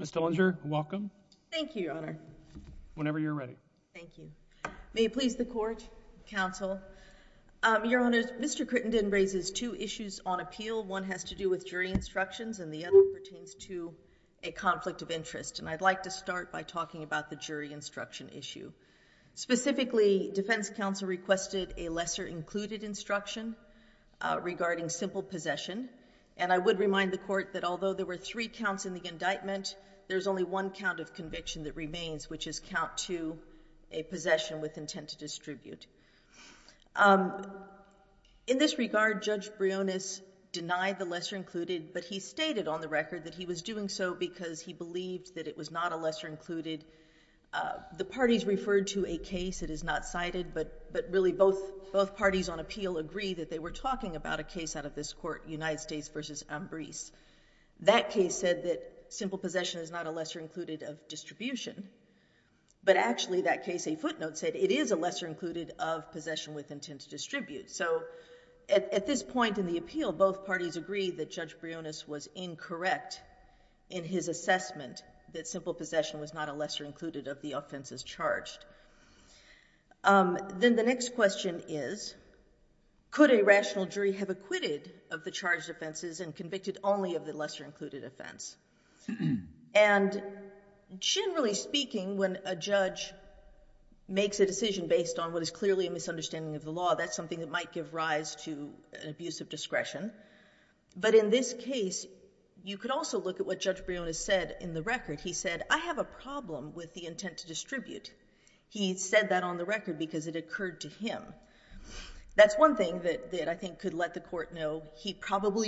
Mr. Crittenden raises two issues on appeal. One has to do with jury instructions and the other pertains to a conflict of interest. And I'd like to start by talking about the jury instruction issue. Specifically, defense counsel requested a lesser included instruction regarding simple possession. And I would remind the court that although there were three counts in the indictment, there's only one count of conviction that remains, which is count two, a possession with intent to distribute. In this regard, Judge Briones denied the lesser included, but he stated on the record that he was doing so because he believed that it was not a lesser included. The parties referred to a case that is not cited, but really both parties on appeal agree that they were talking about a case out of this court, United States v. Ambrise. That case said that simple possession is not a lesser included of distribution, but actually that case, a footnote said, it is a lesser included of possession with intent to distribute. So at this point in the appeal, both parties agreed that Judge Briones was incorrect in his assessment that simple possession was not a lesser included of the offenses charged. Then the next question is, could a rational jury have acquitted of the charged offenses and convicted only of the lesser included offense? And generally speaking, when a judge makes a decision based on what is clearly a misunderstanding of the law, that's something that might give rise to an abuse of discretion. But in this case, you could also look at what Judge Briones said in the record. He said, I have a problem with the intent to distribute. He said that on the record because it occurred to him. That's probably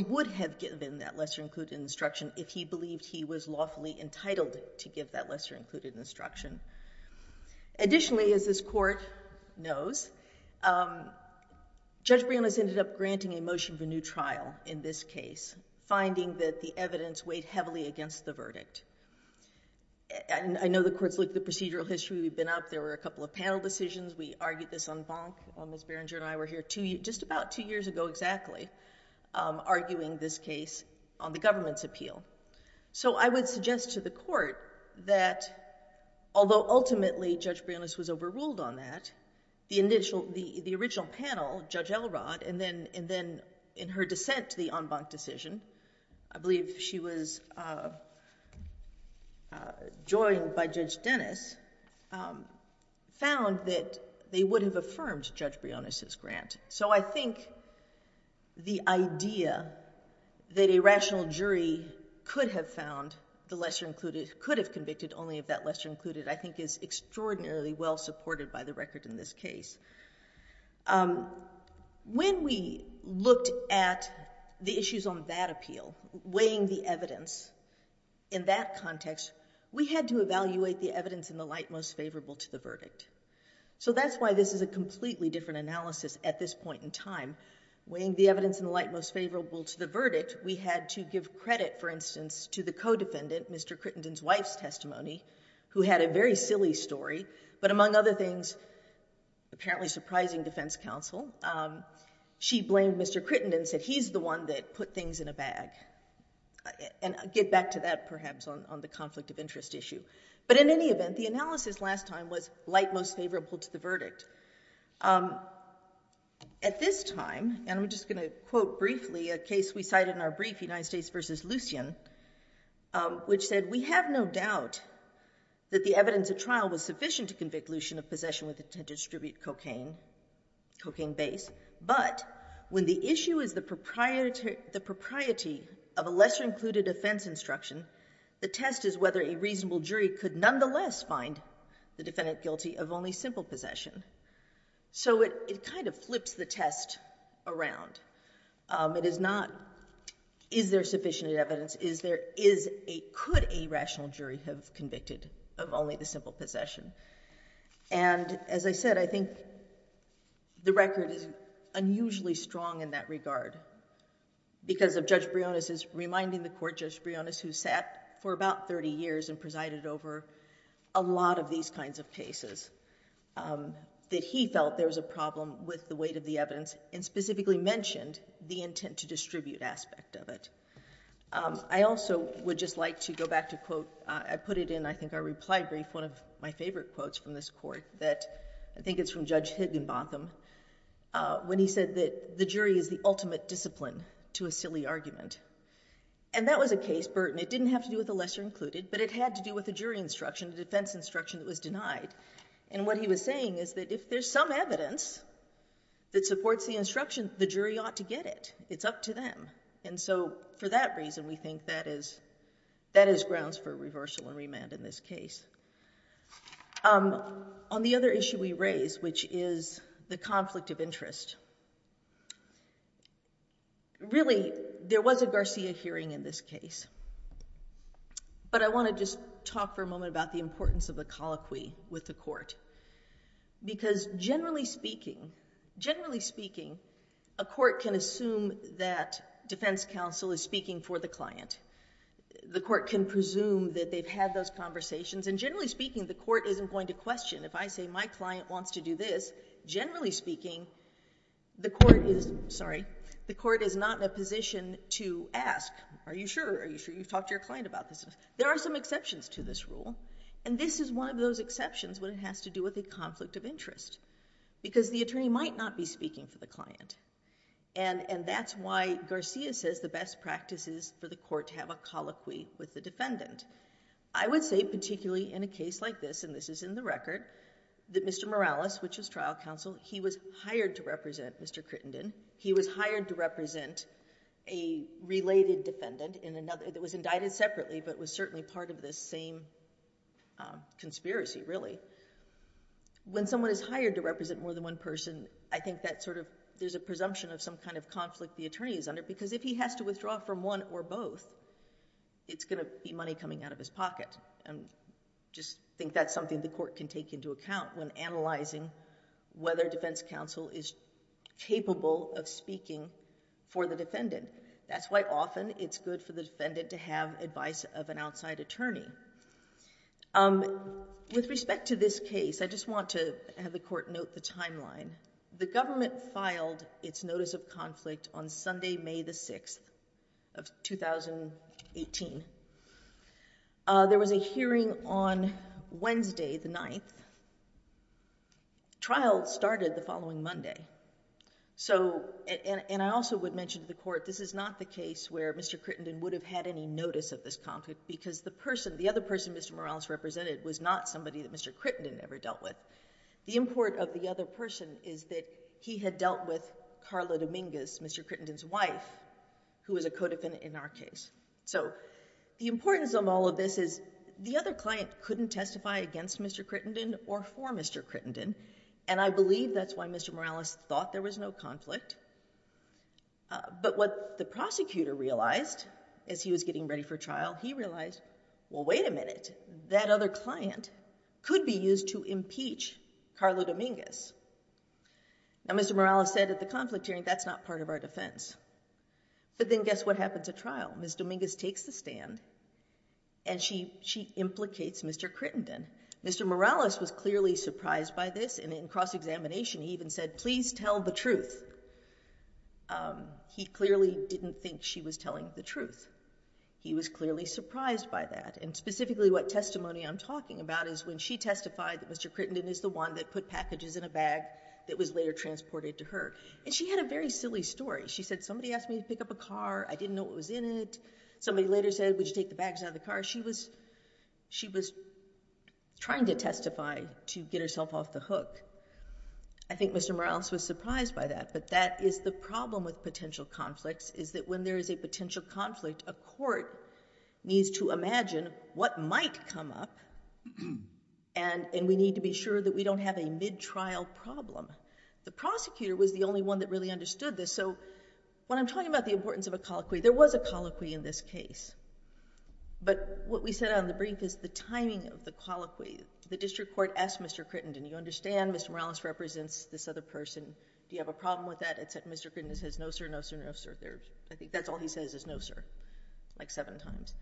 would have given that lesser included instruction if he believed he was lawfully entitled to give that lesser included instruction. Additionally, as this court knows, Judge Briones ended up granting a motion for new trial in this case, finding that the evidence weighed heavily against the verdict. And I know the courts look at the procedural history. We've been up. There were a couple of panel decisions. We argued this on Bonk, on Ms. Berenger and I were here just about two years ago exactly, arguing this case on the government's appeal. So I would suggest to the court that although ultimately Judge Briones was overruled on that, the initial, the original panel, Judge Elrod, and then in her dissent to the on Bonk decision, I believe she was joined by Judge Dennis, found that they would have affirmed Judge Briones' grant. So I think the idea that a rational jury could have found the lesser included, could have convicted only if that lesser included, I think is extraordinarily well supported by the record in this case. When we looked at the issues on that appeal, weighing the evidence in that context, we had to evaluate the evidence in the light most favorable to the verdict. So that's why this is a completely different analysis at this point in time. Weighing the evidence in the light most favorable to the verdict, we had to give credit, for instance, to the co-defendant, Mr. Crittenden's wife's testimony, who had a very silly story, but among other things, apparently surprising defense counsel. She blamed Mr. Crittenden, said he's the one that put things in a bag. And I'll get back to that, perhaps, on the conflict of interest issue. But in any event, the analysis last time was light most favorable to the verdict. At this time, and I'm just going to quote briefly a case we cited in our brief, United States versus Lucien, which said, we have no doubt that the evidence at trial was sufficient to convict Lucien of possession with intent to distribute cocaine, cocaine base. But when the issue is the propriety of a lesser included defense instruction, the test is whether a reasonable jury could nonetheless find the defendant guilty of only simple possession. So it kind of flips the test around. It is not, is there sufficient evidence? Is there, is a, could a rational jury have convicted of only the simple possession? And as I said, I think the record is unusually strong in that regard. Because of Judge Briones is reminding the court, Judge Briones, who sat for about 30 years and presided over a lot of these kinds of cases, that he felt there was a problem with the weight of the evidence and specifically mentioned the intent to distribute aspect of it. I also would just like to go back to quote, I put it in, I think our reply brief, one of my favorite quotes from this court that I think it's from Judge Higginbotham. When he said that the jury is the ultimate discipline to a silly argument. And that was a case, Burton, it didn't have to do with the lesser included, but it had to do with the jury instruction, the defense instruction that was denied. And what he was saying is that if there's some evidence that supports the instruction, the jury ought to get it. It's up to them. And so for that reason, we think that is, that is grounds for reversal of the conflict of interest. Really, there was a Garcia hearing in this case. But I want to just talk for a moment about the importance of the colloquy with the court. Because generally speaking, generally speaking, a court can assume that defense counsel is speaking for the client. The court can presume that they've had those conversations. And generally speaking, the court isn't going to question. If I say my client wants to do this, generally speaking, the court is, sorry, the court is not in a position to ask, are you sure? Are you sure you've talked to your client about this? There are some exceptions to this rule. And this is one of those exceptions when it has to do with a conflict of interest. Because the attorney might not be speaking for the client. And that's why Garcia says the best practice is for the court to have a colloquy with the defendant. I would say particularly in a case like this, and this is in the record, that Mr. Morales, which is trial counsel, he was hired to represent Mr. Crittenden. He was hired to represent a related defendant that was indicted separately, but was certainly part of this same conspiracy, really. When someone is hired to represent more than one person, I think that sort of, there's a presumption of some kind of conflict the attorney is under. Because if he has to withdraw from one or both, it's going to be money coming out of his pocket. And just think that's something the court can take into account when analyzing whether defense counsel is capable of speaking for the defendant. That's why often it's good for the defendant to have advice of an outside attorney. With respect to this case, I just want to have the court note the timeline. The government filed its notice of conflict on Sunday, May the 6th of 2018. There was a hearing on Wednesday, the 9th. Trial started the following Monday. So, and I also would mention to the court, this is not the case where Mr. Crittenden would have had any notice of this conflict, because the person, the other person Mr. Morales represented was not somebody that Mr. Crittenden ever dealt with. The import of the other person is that he had dealt with Carla Dominguez, Mr. Crittenden's wife, who was a co-defendant in our case. So the importance of all of this is the other client couldn't testify against Mr. Crittenden or for Mr. Crittenden. And I believe that's why Mr. Morales thought there was no conflict. But what the prosecutor realized as he was getting ready for trial, he realized, well another client could be used to impeach Carla Dominguez. Now Mr. Morales said at the conflict hearing, that's not part of our defense. But then guess what happens at trial? Ms. Dominguez takes the stand and she implicates Mr. Crittenden. Mr. Morales was clearly surprised by this and in cross-examination he even said, please tell the truth. He clearly didn't think she was telling the truth. He was clearly surprised by that. And specifically what testimony on talking about is when she testified that Mr. Crittenden is the one that put packages in a bag that was later transported to her. And she had a very silly story. She said somebody asked me to pick up a car. I didn't know what was in it. Somebody later said, would you take the bags out of the car? She was, she was trying to testify to get herself off the hook. I think Mr. Morales was surprised by that. But that is the problem with potential conflicts is that when there is a potential conflict, a court needs to imagine what might come up and we need to be sure that we don't have a mid-trial problem. The prosecutor was the only one that really understood this. So when I'm talking about the importance of a colloquy, there was a colloquy in this case. But what we said on the brief is the timing of the colloquy. The district court asked Mr. Crittenden, you understand Mr. Morales represents this other person. Do you have a problem with that? And Mr. Crittenden says, no sir, no sir, no sir. I think that's all he says is no sir, like seven times.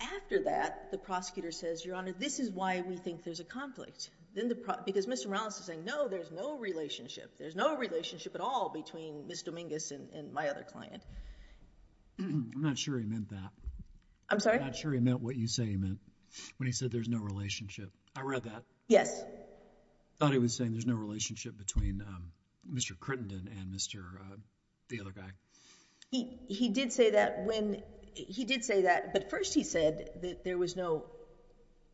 After that, the prosecutor says, your honor, this is why we think there's a conflict. Then the pro, because Mr. Morales is saying, no, there's no relationship. There's no relationship at all between Ms. Dominguez and my other client. I'm not sure he meant that. I'm sorry? I'm not sure he meant what you say he meant when he said there's no relationship. I read that. Yes. I thought he was saying there's no relationship between Mr. Crittenden and Mr. uh, the other guy. He, he did say that when he did say that, but first he said that there was no,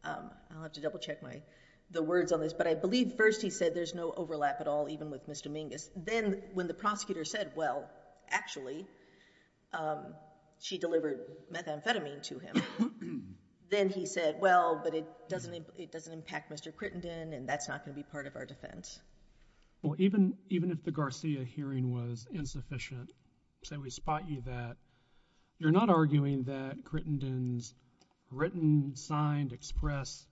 um, I'll have to double check my, the words on this, but I believe first he said there's no overlap at all, even with Ms. Dominguez. Then when the prosecutor said, well, actually, um, she delivered methamphetamine to him. Then he said, well, but it doesn't, it doesn't impact Mr. Crittenden and that's not going to be part of our defense. Well, even, even if the Garcia hearing was insufficient, say we spot you that, you're not arguing that Crittenden's written, signed, express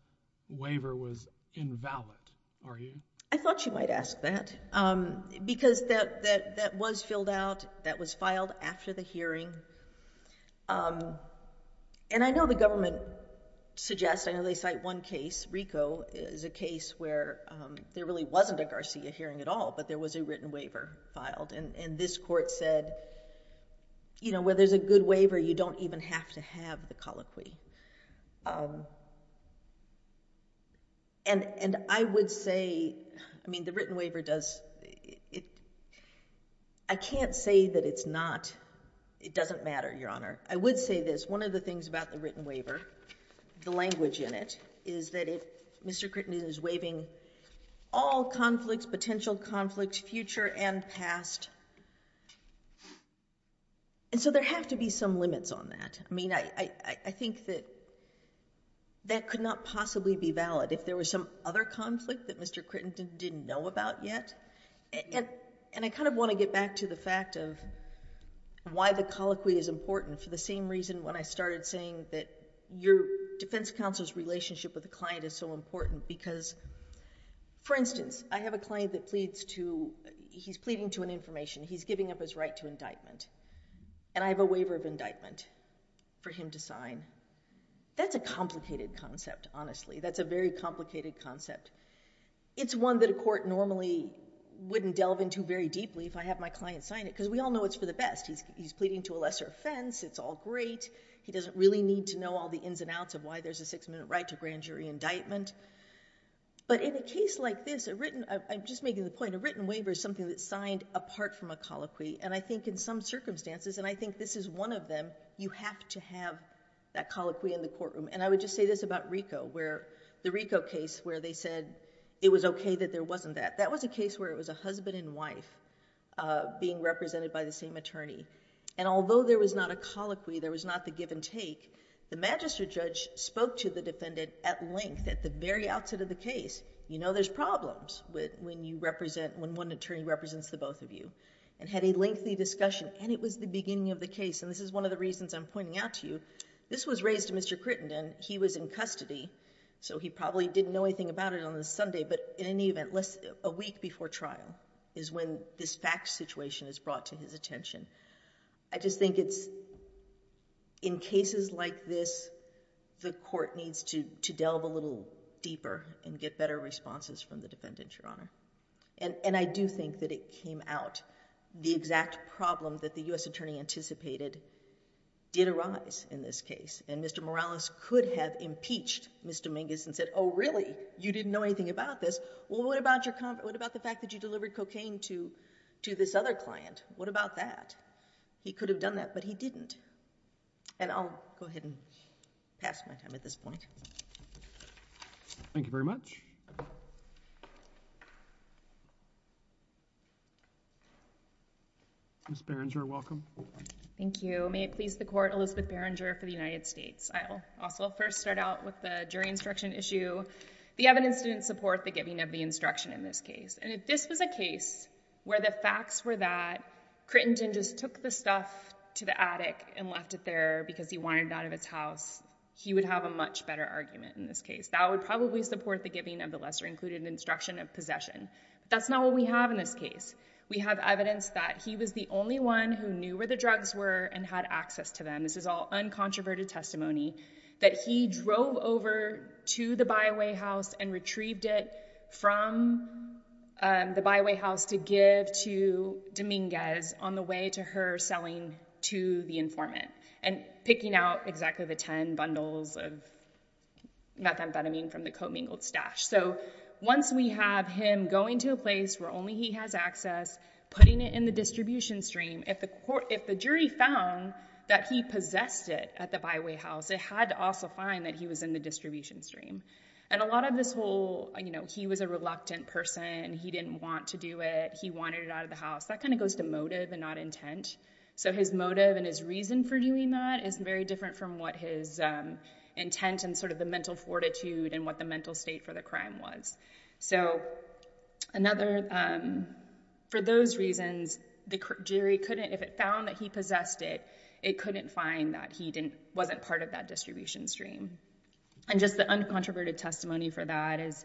waiver was invalid, are you? I thought you might ask that. Um, because that, that, that was filled out, that was filed after the hearing. Um, and I know the government suggests, I know they cite one case, RICO is a case where, um, there really wasn't a Garcia hearing at all, but there was a written waiver filed and, and this court said, you know, where there's a good waiver, you don't even have to have the colloquy. Um, and, and I would say, I mean the written waiver does, it, I can't say that it's not, it doesn't matter, Your Honor. I would say this, one of the things about the written waiver, the language in it, is that it, Mr. Crittenden is waiving all conflicts, potential conflicts, future and past. And so there have to be some limits on that. I mean, I, I, I think that that could not possibly be valid if there was some other conflict that Mr. Crittenden didn't know about yet. And, and I kind of want to get back to the fact of why the colloquy is important for the same reason when I started saying that your defense counsel's relationship with the client is so important because, for instance, I have a client that pleads to, he's pleading to an information. He's giving up his right to indictment and I have a waiver of indictment for him to sign. That's a complicated concept, honestly. That's a very complicated concept. It's one that a court normally wouldn't delve into very deeply if I have my client sign it because we all know it's for the best. He's, he's pleading to a lesser offense. It's all great. He doesn't really need to know all the ins and outs of why there's a six minute right to grand jury indictment. But in a case like this, a written, I'm just making the point, a written waiver is something that's signed apart from a colloquy. And I think in some circumstances, and I think this is one of them, you have to have that colloquy in the courtroom. And I would just say this about RICO where the RICO case where they said it was okay that there wasn't that. That was a case where it was a husband and wife being represented by the same attorney. And although there was not a colloquy, there was not the give and take, the magistrate judge spoke to the defendant at length at the very outset of the case. You know there's problems when you represent, when one attorney represents the both of you and had a lengthy discussion and it was the beginning of the case. And this is one of the reasons I'm pointing out to you. This was raised to Mr. Crittenden. He was in custody, so he probably didn't know anything about it on the Sunday, but in any case, this fact situation is brought to his attention. I just think it's, in cases like this, the court needs to delve a little deeper and get better responses from the defendant, Your Honor. And I do think that it came out, the exact problem that the U.S. attorney anticipated did arise in this case. And Mr. Morales could have impeached Mr. Mingus and said, oh really? You didn't know anything about this? Well, what about the fact that you delivered cocaine to this other client? What about that? He could have done that, but he didn't. And I'll go ahead and pass my time at this point. Thank you very much. Ms. Berenger, welcome. Thank you. May it please the Court, Elizabeth Berenger for the United States. I'll also first start out with the jury instruction issue. The evidence didn't support the giving of the instruction in this case. And if this was a case where the facts were that Crittenton just took the stuff to the attic and left it there because he wanted it out of his house, he would have a much better argument in this case. That would probably support the giving of the lesser included instruction of possession. That's not what we have in this case. We have evidence that he was the only one who knew where the drugs were and had access to them. This is all uncontroverted testimony, that he drove over to the byway house and retrieved it from the byway house to give to Dominguez on the way to her selling to the informant and picking out exactly the 10 bundles of methamphetamine from the commingled stash. So once we have him going to a place where only he has access, putting it in the distribution stream, if the jury found that he possessed it at the byway house, it had to also find that he was in the distribution stream. And a lot of this whole, he was a reluctant person, he didn't want to do it, he wanted it out of the house, that kind of goes to motive and not intent. So his motive and his reason for doing that is very different from what his intent and sort of the mental fortitude and what the mental state for the crime was. For those reasons, the jury couldn't, if it found that he possessed it, it couldn't find that he wasn't part of that distribution stream. And just the uncontroverted testimony for that is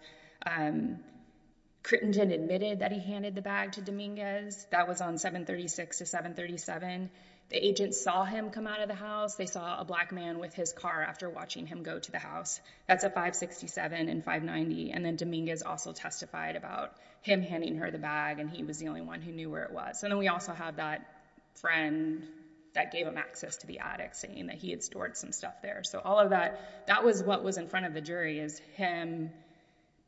Crittenden admitted that he handed the bag to Dominguez, that was on 736 to 737, the agent saw him come out of the house, they saw a black man with his car after watching him go to the house, that's at 567 and 590, and then Dominguez also testified about him handing her the bag and he was the only one who knew where it was. And then we also have that friend that gave him access to the attic saying that he had stored some stuff there. So all of that, that was what was in front of the jury is him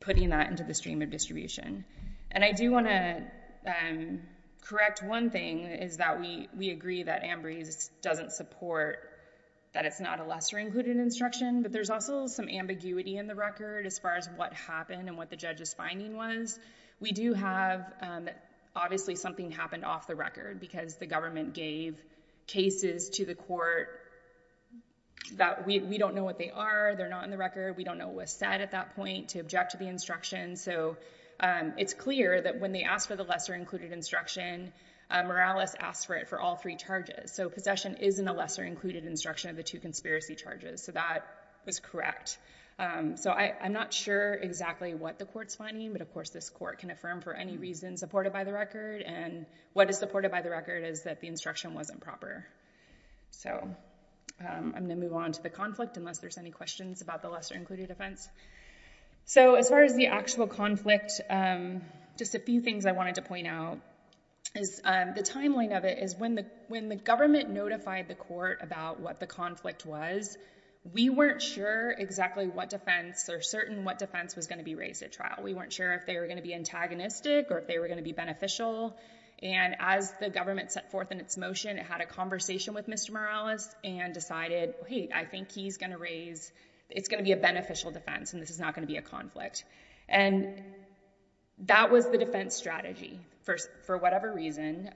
putting that into the stream of distribution. And I do want to correct one thing is that we agree that Ambrose doesn't support that it's not a lesser included instruction, but there's also some ambiguity in the record as far as what happened and what the judge's finding was. We do have, obviously something happened off the record because the government gave cases to the court that we don't know what they are, they're not in the record, we don't know what was said at that point to object to the instruction. So it's clear that when they asked for the lesser included instruction, Morales asked for it for all three charges. So possession is in a lesser included instruction of the two conspiracy charges. So that was correct. So I'm not sure exactly what the court's finding, but of course this court can affirm for any reason supported by the record. And what is supported by the record is that the instruction wasn't proper. So I'm going to move on to the conflict unless there's any questions about the lesser included offense. So as far as the actual conflict, just a few things I wanted to point out is the timeline of it is when the government notified the court about what the conflict was, we weren't sure exactly what defense or certain what defense was going to be raised at trial. We weren't sure if they were going to be antagonistic or if they were going to be beneficial. And as the government set forth in its motion, it had a conversation with Mr. Morales and decided, hey, I think he's going to raise, it's going to be a beneficial defense and this is not going to be a conflict. And that was the defense strategy for whatever reason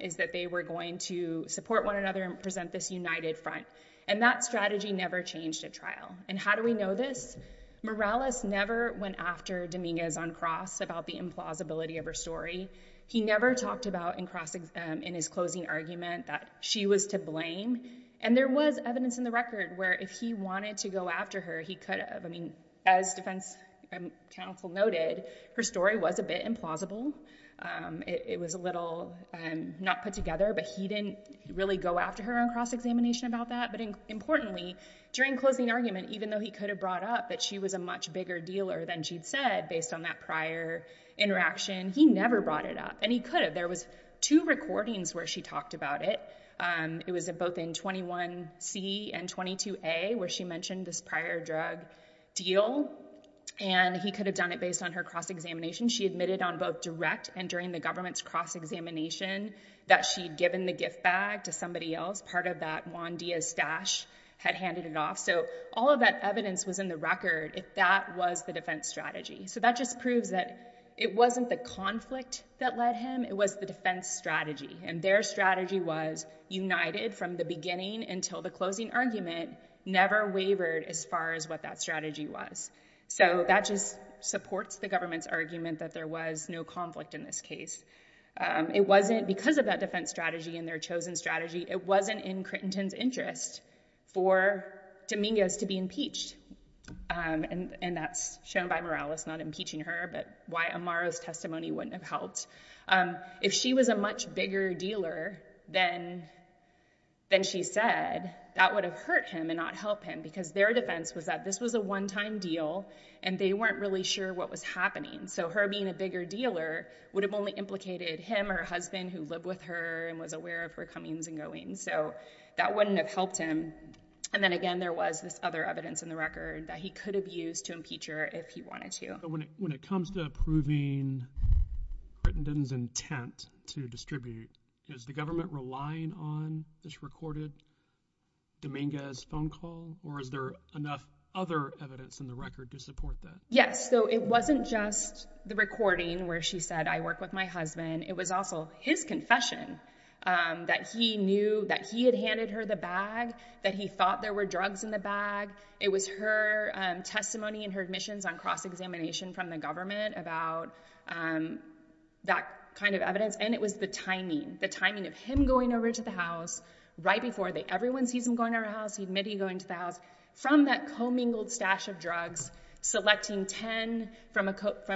is that they were going to support one another and present this united front. And that strategy never changed at trial. And how do we know this? Morales never went after Dominguez on cross about the implausibility of her story. He never talked about in his closing argument that she was to blame. And there was evidence in the record where if he wanted to go after her, he could have. I mean, as defense counsel noted, her story was a bit implausible. It was a little not put together, but he didn't really go after her on cross-examination about that. But importantly, during closing argument, even though he could have brought up that she was a much bigger dealer than she'd said based on that prior interaction, he never brought it up. And he could have. There was two recordings where she talked about it. It was both in 21C and 22A where she mentioned this prior drug deal and he could have done it based on her cross-examination. She admitted on both direct and during the government's cross-examination that she'd given the gift bag to somebody else. Part of that Juan Diaz stash had handed it off. So all of that evidence was in the record if that was the defense strategy. So that just proves that it wasn't the conflict that led him. It was the defense strategy and their strategy was united from the beginning until the closing argument never wavered as far as what that strategy was. So that just supports the government's argument that there was no conflict in this case. It wasn't because of that defense strategy and their chosen strategy. It wasn't in Crittenton's interest for Domingos to be impeached. And that's shown by Morales not impeaching her, but why Amaro's testimony wouldn't have helped. If she was a much bigger dealer than she said, that would have hurt him and not help him because their defense was that this was a one-time deal and they weren't really sure what was happening. So her being a bigger dealer would have only hurt her and was aware of her comings and goings. So that wouldn't have helped him. And then again, there was this other evidence in the record that he could have used to impeach her if he wanted to. When it comes to approving Crittenton's intent to distribute, is the government relying on this recorded Domingos phone call or is there enough other evidence in the record to support that? Yes. So it wasn't just the recording where she said, I work with my husband. It was also his confession that he knew that he had handed her the bag, that he thought there were drugs in the bag. It was her testimony and her admissions on cross-examination from the government about that kind of evidence. And it was the timing, the timing of him going over to the house right before everyone sees him going to her house, he admitted going to the house, from that commingled stash of drugs, selecting 10 from about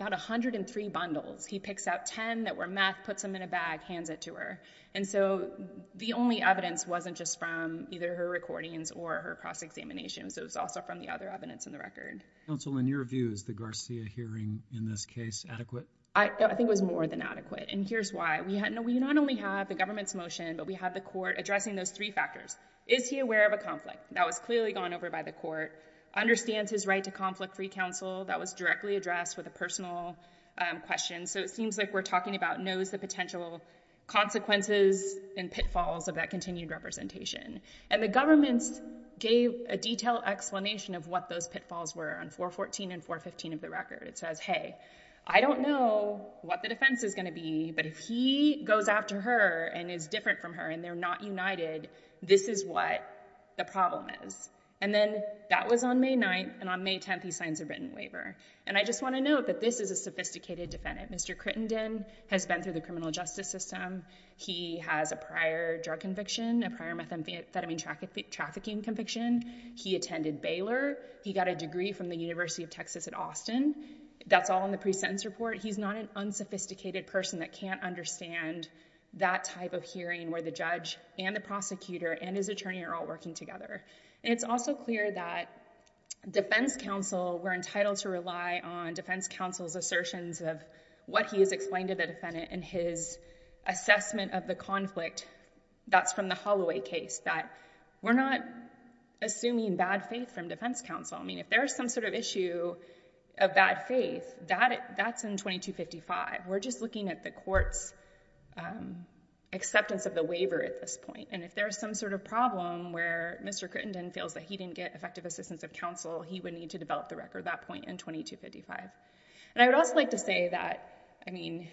103 bundles. He picks out 10 that were meth, puts them in a bag, hands it to her. And so the only evidence wasn't just from either her recordings or her cross-examination. So it was also from the other evidence in the record. Counsel, in your view, is the Garcia hearing in this case adequate? I think it was more than adequate. And here's why. We not only have the government's motion, but we have the court addressing those three factors. Is he aware of a conflict that was clearly gone over by the court? Understands his right to conflict-free counsel that was knows the potential consequences and pitfalls of that continued representation. And the government gave a detailed explanation of what those pitfalls were on 414 and 415 of the record. It says, hey, I don't know what the defense is going to be, but if he goes after her and is different from her and they're not united, this is what the problem is. And then that was on May 9th. And on May 10th, he signs a written waiver. And I just want to note that this is a sophisticated defendant. Mr. Crittenden has been through the criminal justice system. He has a prior drug conviction, a prior methamphetamine trafficking conviction. He attended Baylor. He got a degree from the University of Texas at Austin. That's all in the pre-sentence report. He's not an unsophisticated person that can't understand that type of hearing where the judge and the prosecutor and his attorney are all working together. It's also clear that defense counsel, we're entitled to rely on defense counsel's assertions of what he has explained to the defendant and his assessment of the conflict that's from the Holloway case, that we're not assuming bad faith from defense counsel. I mean, if there's some sort of issue of bad faith, that's in 2255. We're just looking at the court's report of the waiver at this point. And if there's some sort of problem where Mr. Crittenden feels that he didn't get effective assistance of counsel, he would need to develop the record at that point in 2255. And I would also like to say that, I mean,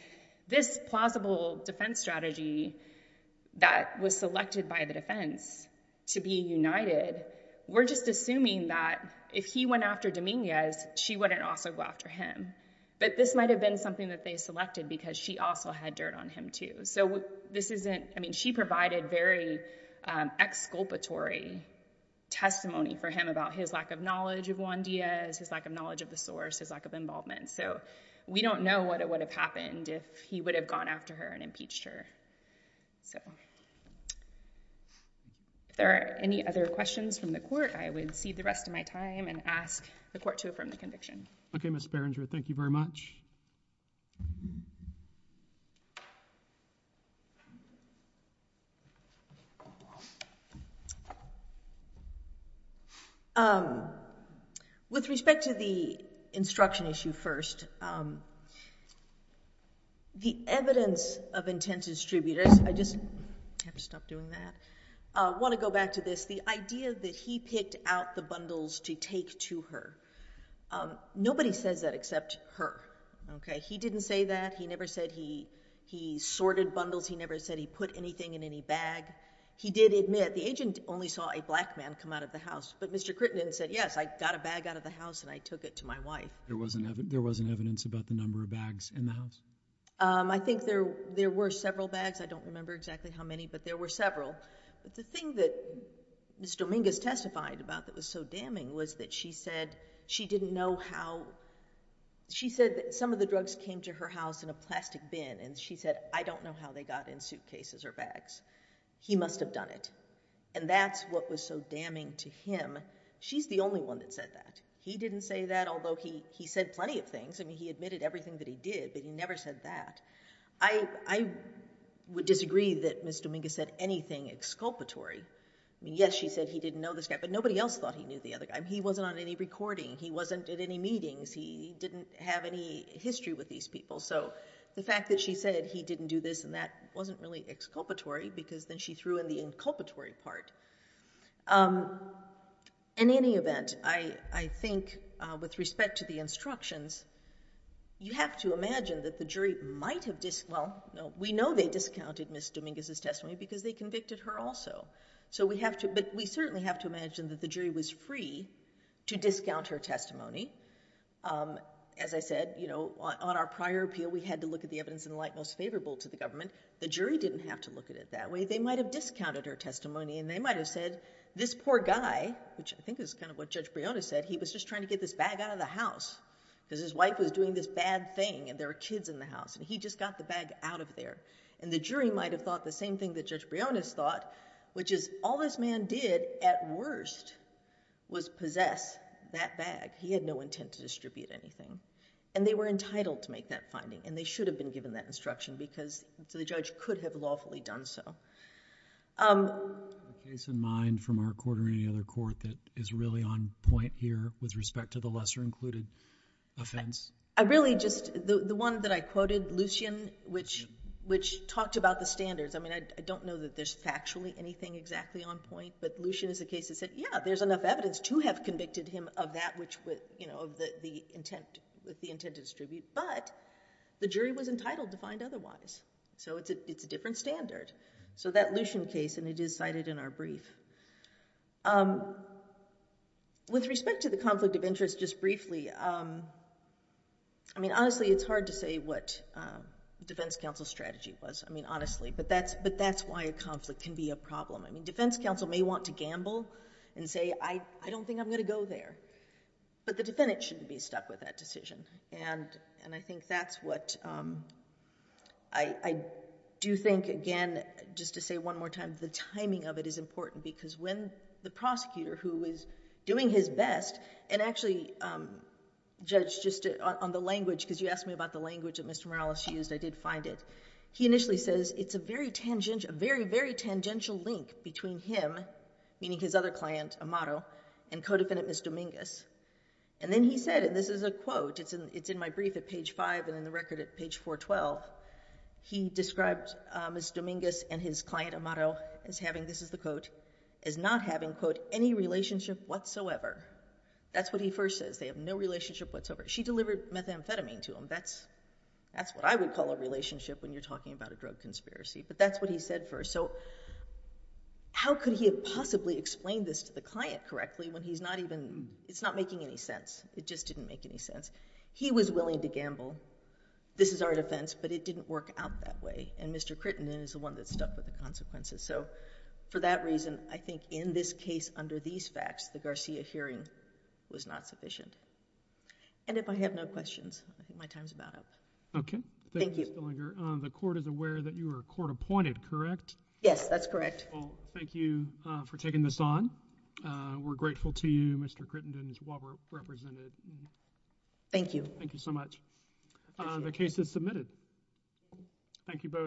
this plausible defense strategy that was selected by the defense to be united, we're just assuming that if he went after Dominguez, she wouldn't also go after him. But this might have been something that they selected because she also had dirt on him too. So this isn't, I mean, she provided very exculpatory testimony for him about his lack of knowledge of Juan Diaz, his lack of knowledge of the source, his lack of involvement. So we don't know what would have happened if he would have gone after her and impeached her. So if there are any other questions from the court, I would cede the rest of my time and ask the court to affirm the conviction. Okay, Ms. Berenger, thank you very much. With respect to the instruction issue first, the evidence of intent to distribute, I just have to stop doing that, I want to go back to this, the idea that he picked out the bundles to take to her. Nobody says that except her, okay? He didn't say that, he never said he sorted bundles, he never said he put anything in any bag. He did admit, the agent only saw a black man come out of the house, but Mr. Crittenden said, yes, I got a bag out of the house and I took it to my wife. There wasn't evidence about the number of bags in the house? I think there were several bags, I don't remember exactly how many, but there were several. The thing that Ms. Dominguez testified about that was so damning was that she said she didn't know how, she said that some of the drugs came to her house in a plastic bin and she said, I don't know how they got in suitcases or bags. He must have done it. And that's what was so damning to him. She's the only one that said that. He didn't say that, although he said plenty of things, I mean, he admitted everything that he did, but he never said that. I would disagree that Ms. Dominguez said anything exculpatory. Yes, she said he didn't know this guy, but nobody else thought he knew the other guy. He wasn't on any recording. He wasn't at any meetings. He didn't have any history with these people. So the fact that she said he didn't do this and that wasn't really exculpatory because then she threw in the inculpatory part. In any event, I think with respect to the instructions, you have to imagine that the jury might have, well, we know they discounted Ms. Dominguez's testimony because they convicted her also. So we have to, but we certainly have to imagine that the jury was free to discount her testimony. As I said, you know, on our prior appeal, we had to look at the evidence in light most favorable to the government. The jury didn't have to look at it that way. They might have discounted her testimony and they might have said, this poor guy, which I think is kind of what Judge Brionis said, he was just trying to get this bag out of the house because his wife was doing this bad thing and there were kids in the house and he just got the bag out of there. And the jury might have thought the same thing that Judge Brionis thought, which is all this man did at worst was possess that bag. He had no intent to distribute anything and they were entitled to make that finding and they could have lawfully done so. The case in mind from our court or any other court that is really on point here with respect to the lesser included offense? I really just, the one that I quoted, Lucian, which talked about the standards. I mean, I don't know that there's factually anything exactly on point, but Lucian is the case that said, yeah, there's enough evidence to have convicted him of that which would, you know, the jury was entitled to find otherwise. So it's a different standard. So that Lucian case, and it is cited in our brief. With respect to the conflict of interest, just briefly, I mean, honestly, it's hard to say what defense counsel strategy was. I mean, honestly, but that's why a conflict can be a problem. I mean, defense counsel may want to gamble and say, I don't think I'm going to go there, but the defendant shouldn't be stuck with that decision. And I think that's what I do think, again, just to say one more time, the timing of it is important because when the prosecutor who is doing his best, and actually, Judge, just on the language, because you asked me about the language that Mr. Morales used, I did find it. He initially says, it's a very tangential link between him, meaning his other client, Amato, and co-defendant Ms. Dominguez. And then he said, and this is a quote, it's in my brief at page five and in the record at page 412, he described Ms. Dominguez and his client Amato as having, this is the quote, as not having, quote, any relationship whatsoever. That's what he first says. They have no relationship whatsoever. She delivered methamphetamine to him. That's what I would call a relationship when you're talking about a drug conspiracy. But that's what he said first. So how could he have possibly explained this to the client correctly when he's not even, it's not making any sense. It just didn't make any sense. He was willing to gamble. This is our defense, but it didn't work out that way. And Mr. Crittenden is the one that's stuck with the consequences. So for that reason, I think in this case under these facts, the Garcia hearing was not sufficient. And if I have no questions, I think my time is about up. Okay. Thank you. Thank you, Ms. Dillinger. The Court is aware that you are court-appointed, correct? Yes, that's correct. Well, thank you for taking this on. We're grateful to you, Mr. Crittenden, as well, for representing. Thank you. Thank you so much. The case is submitted. Thank you both.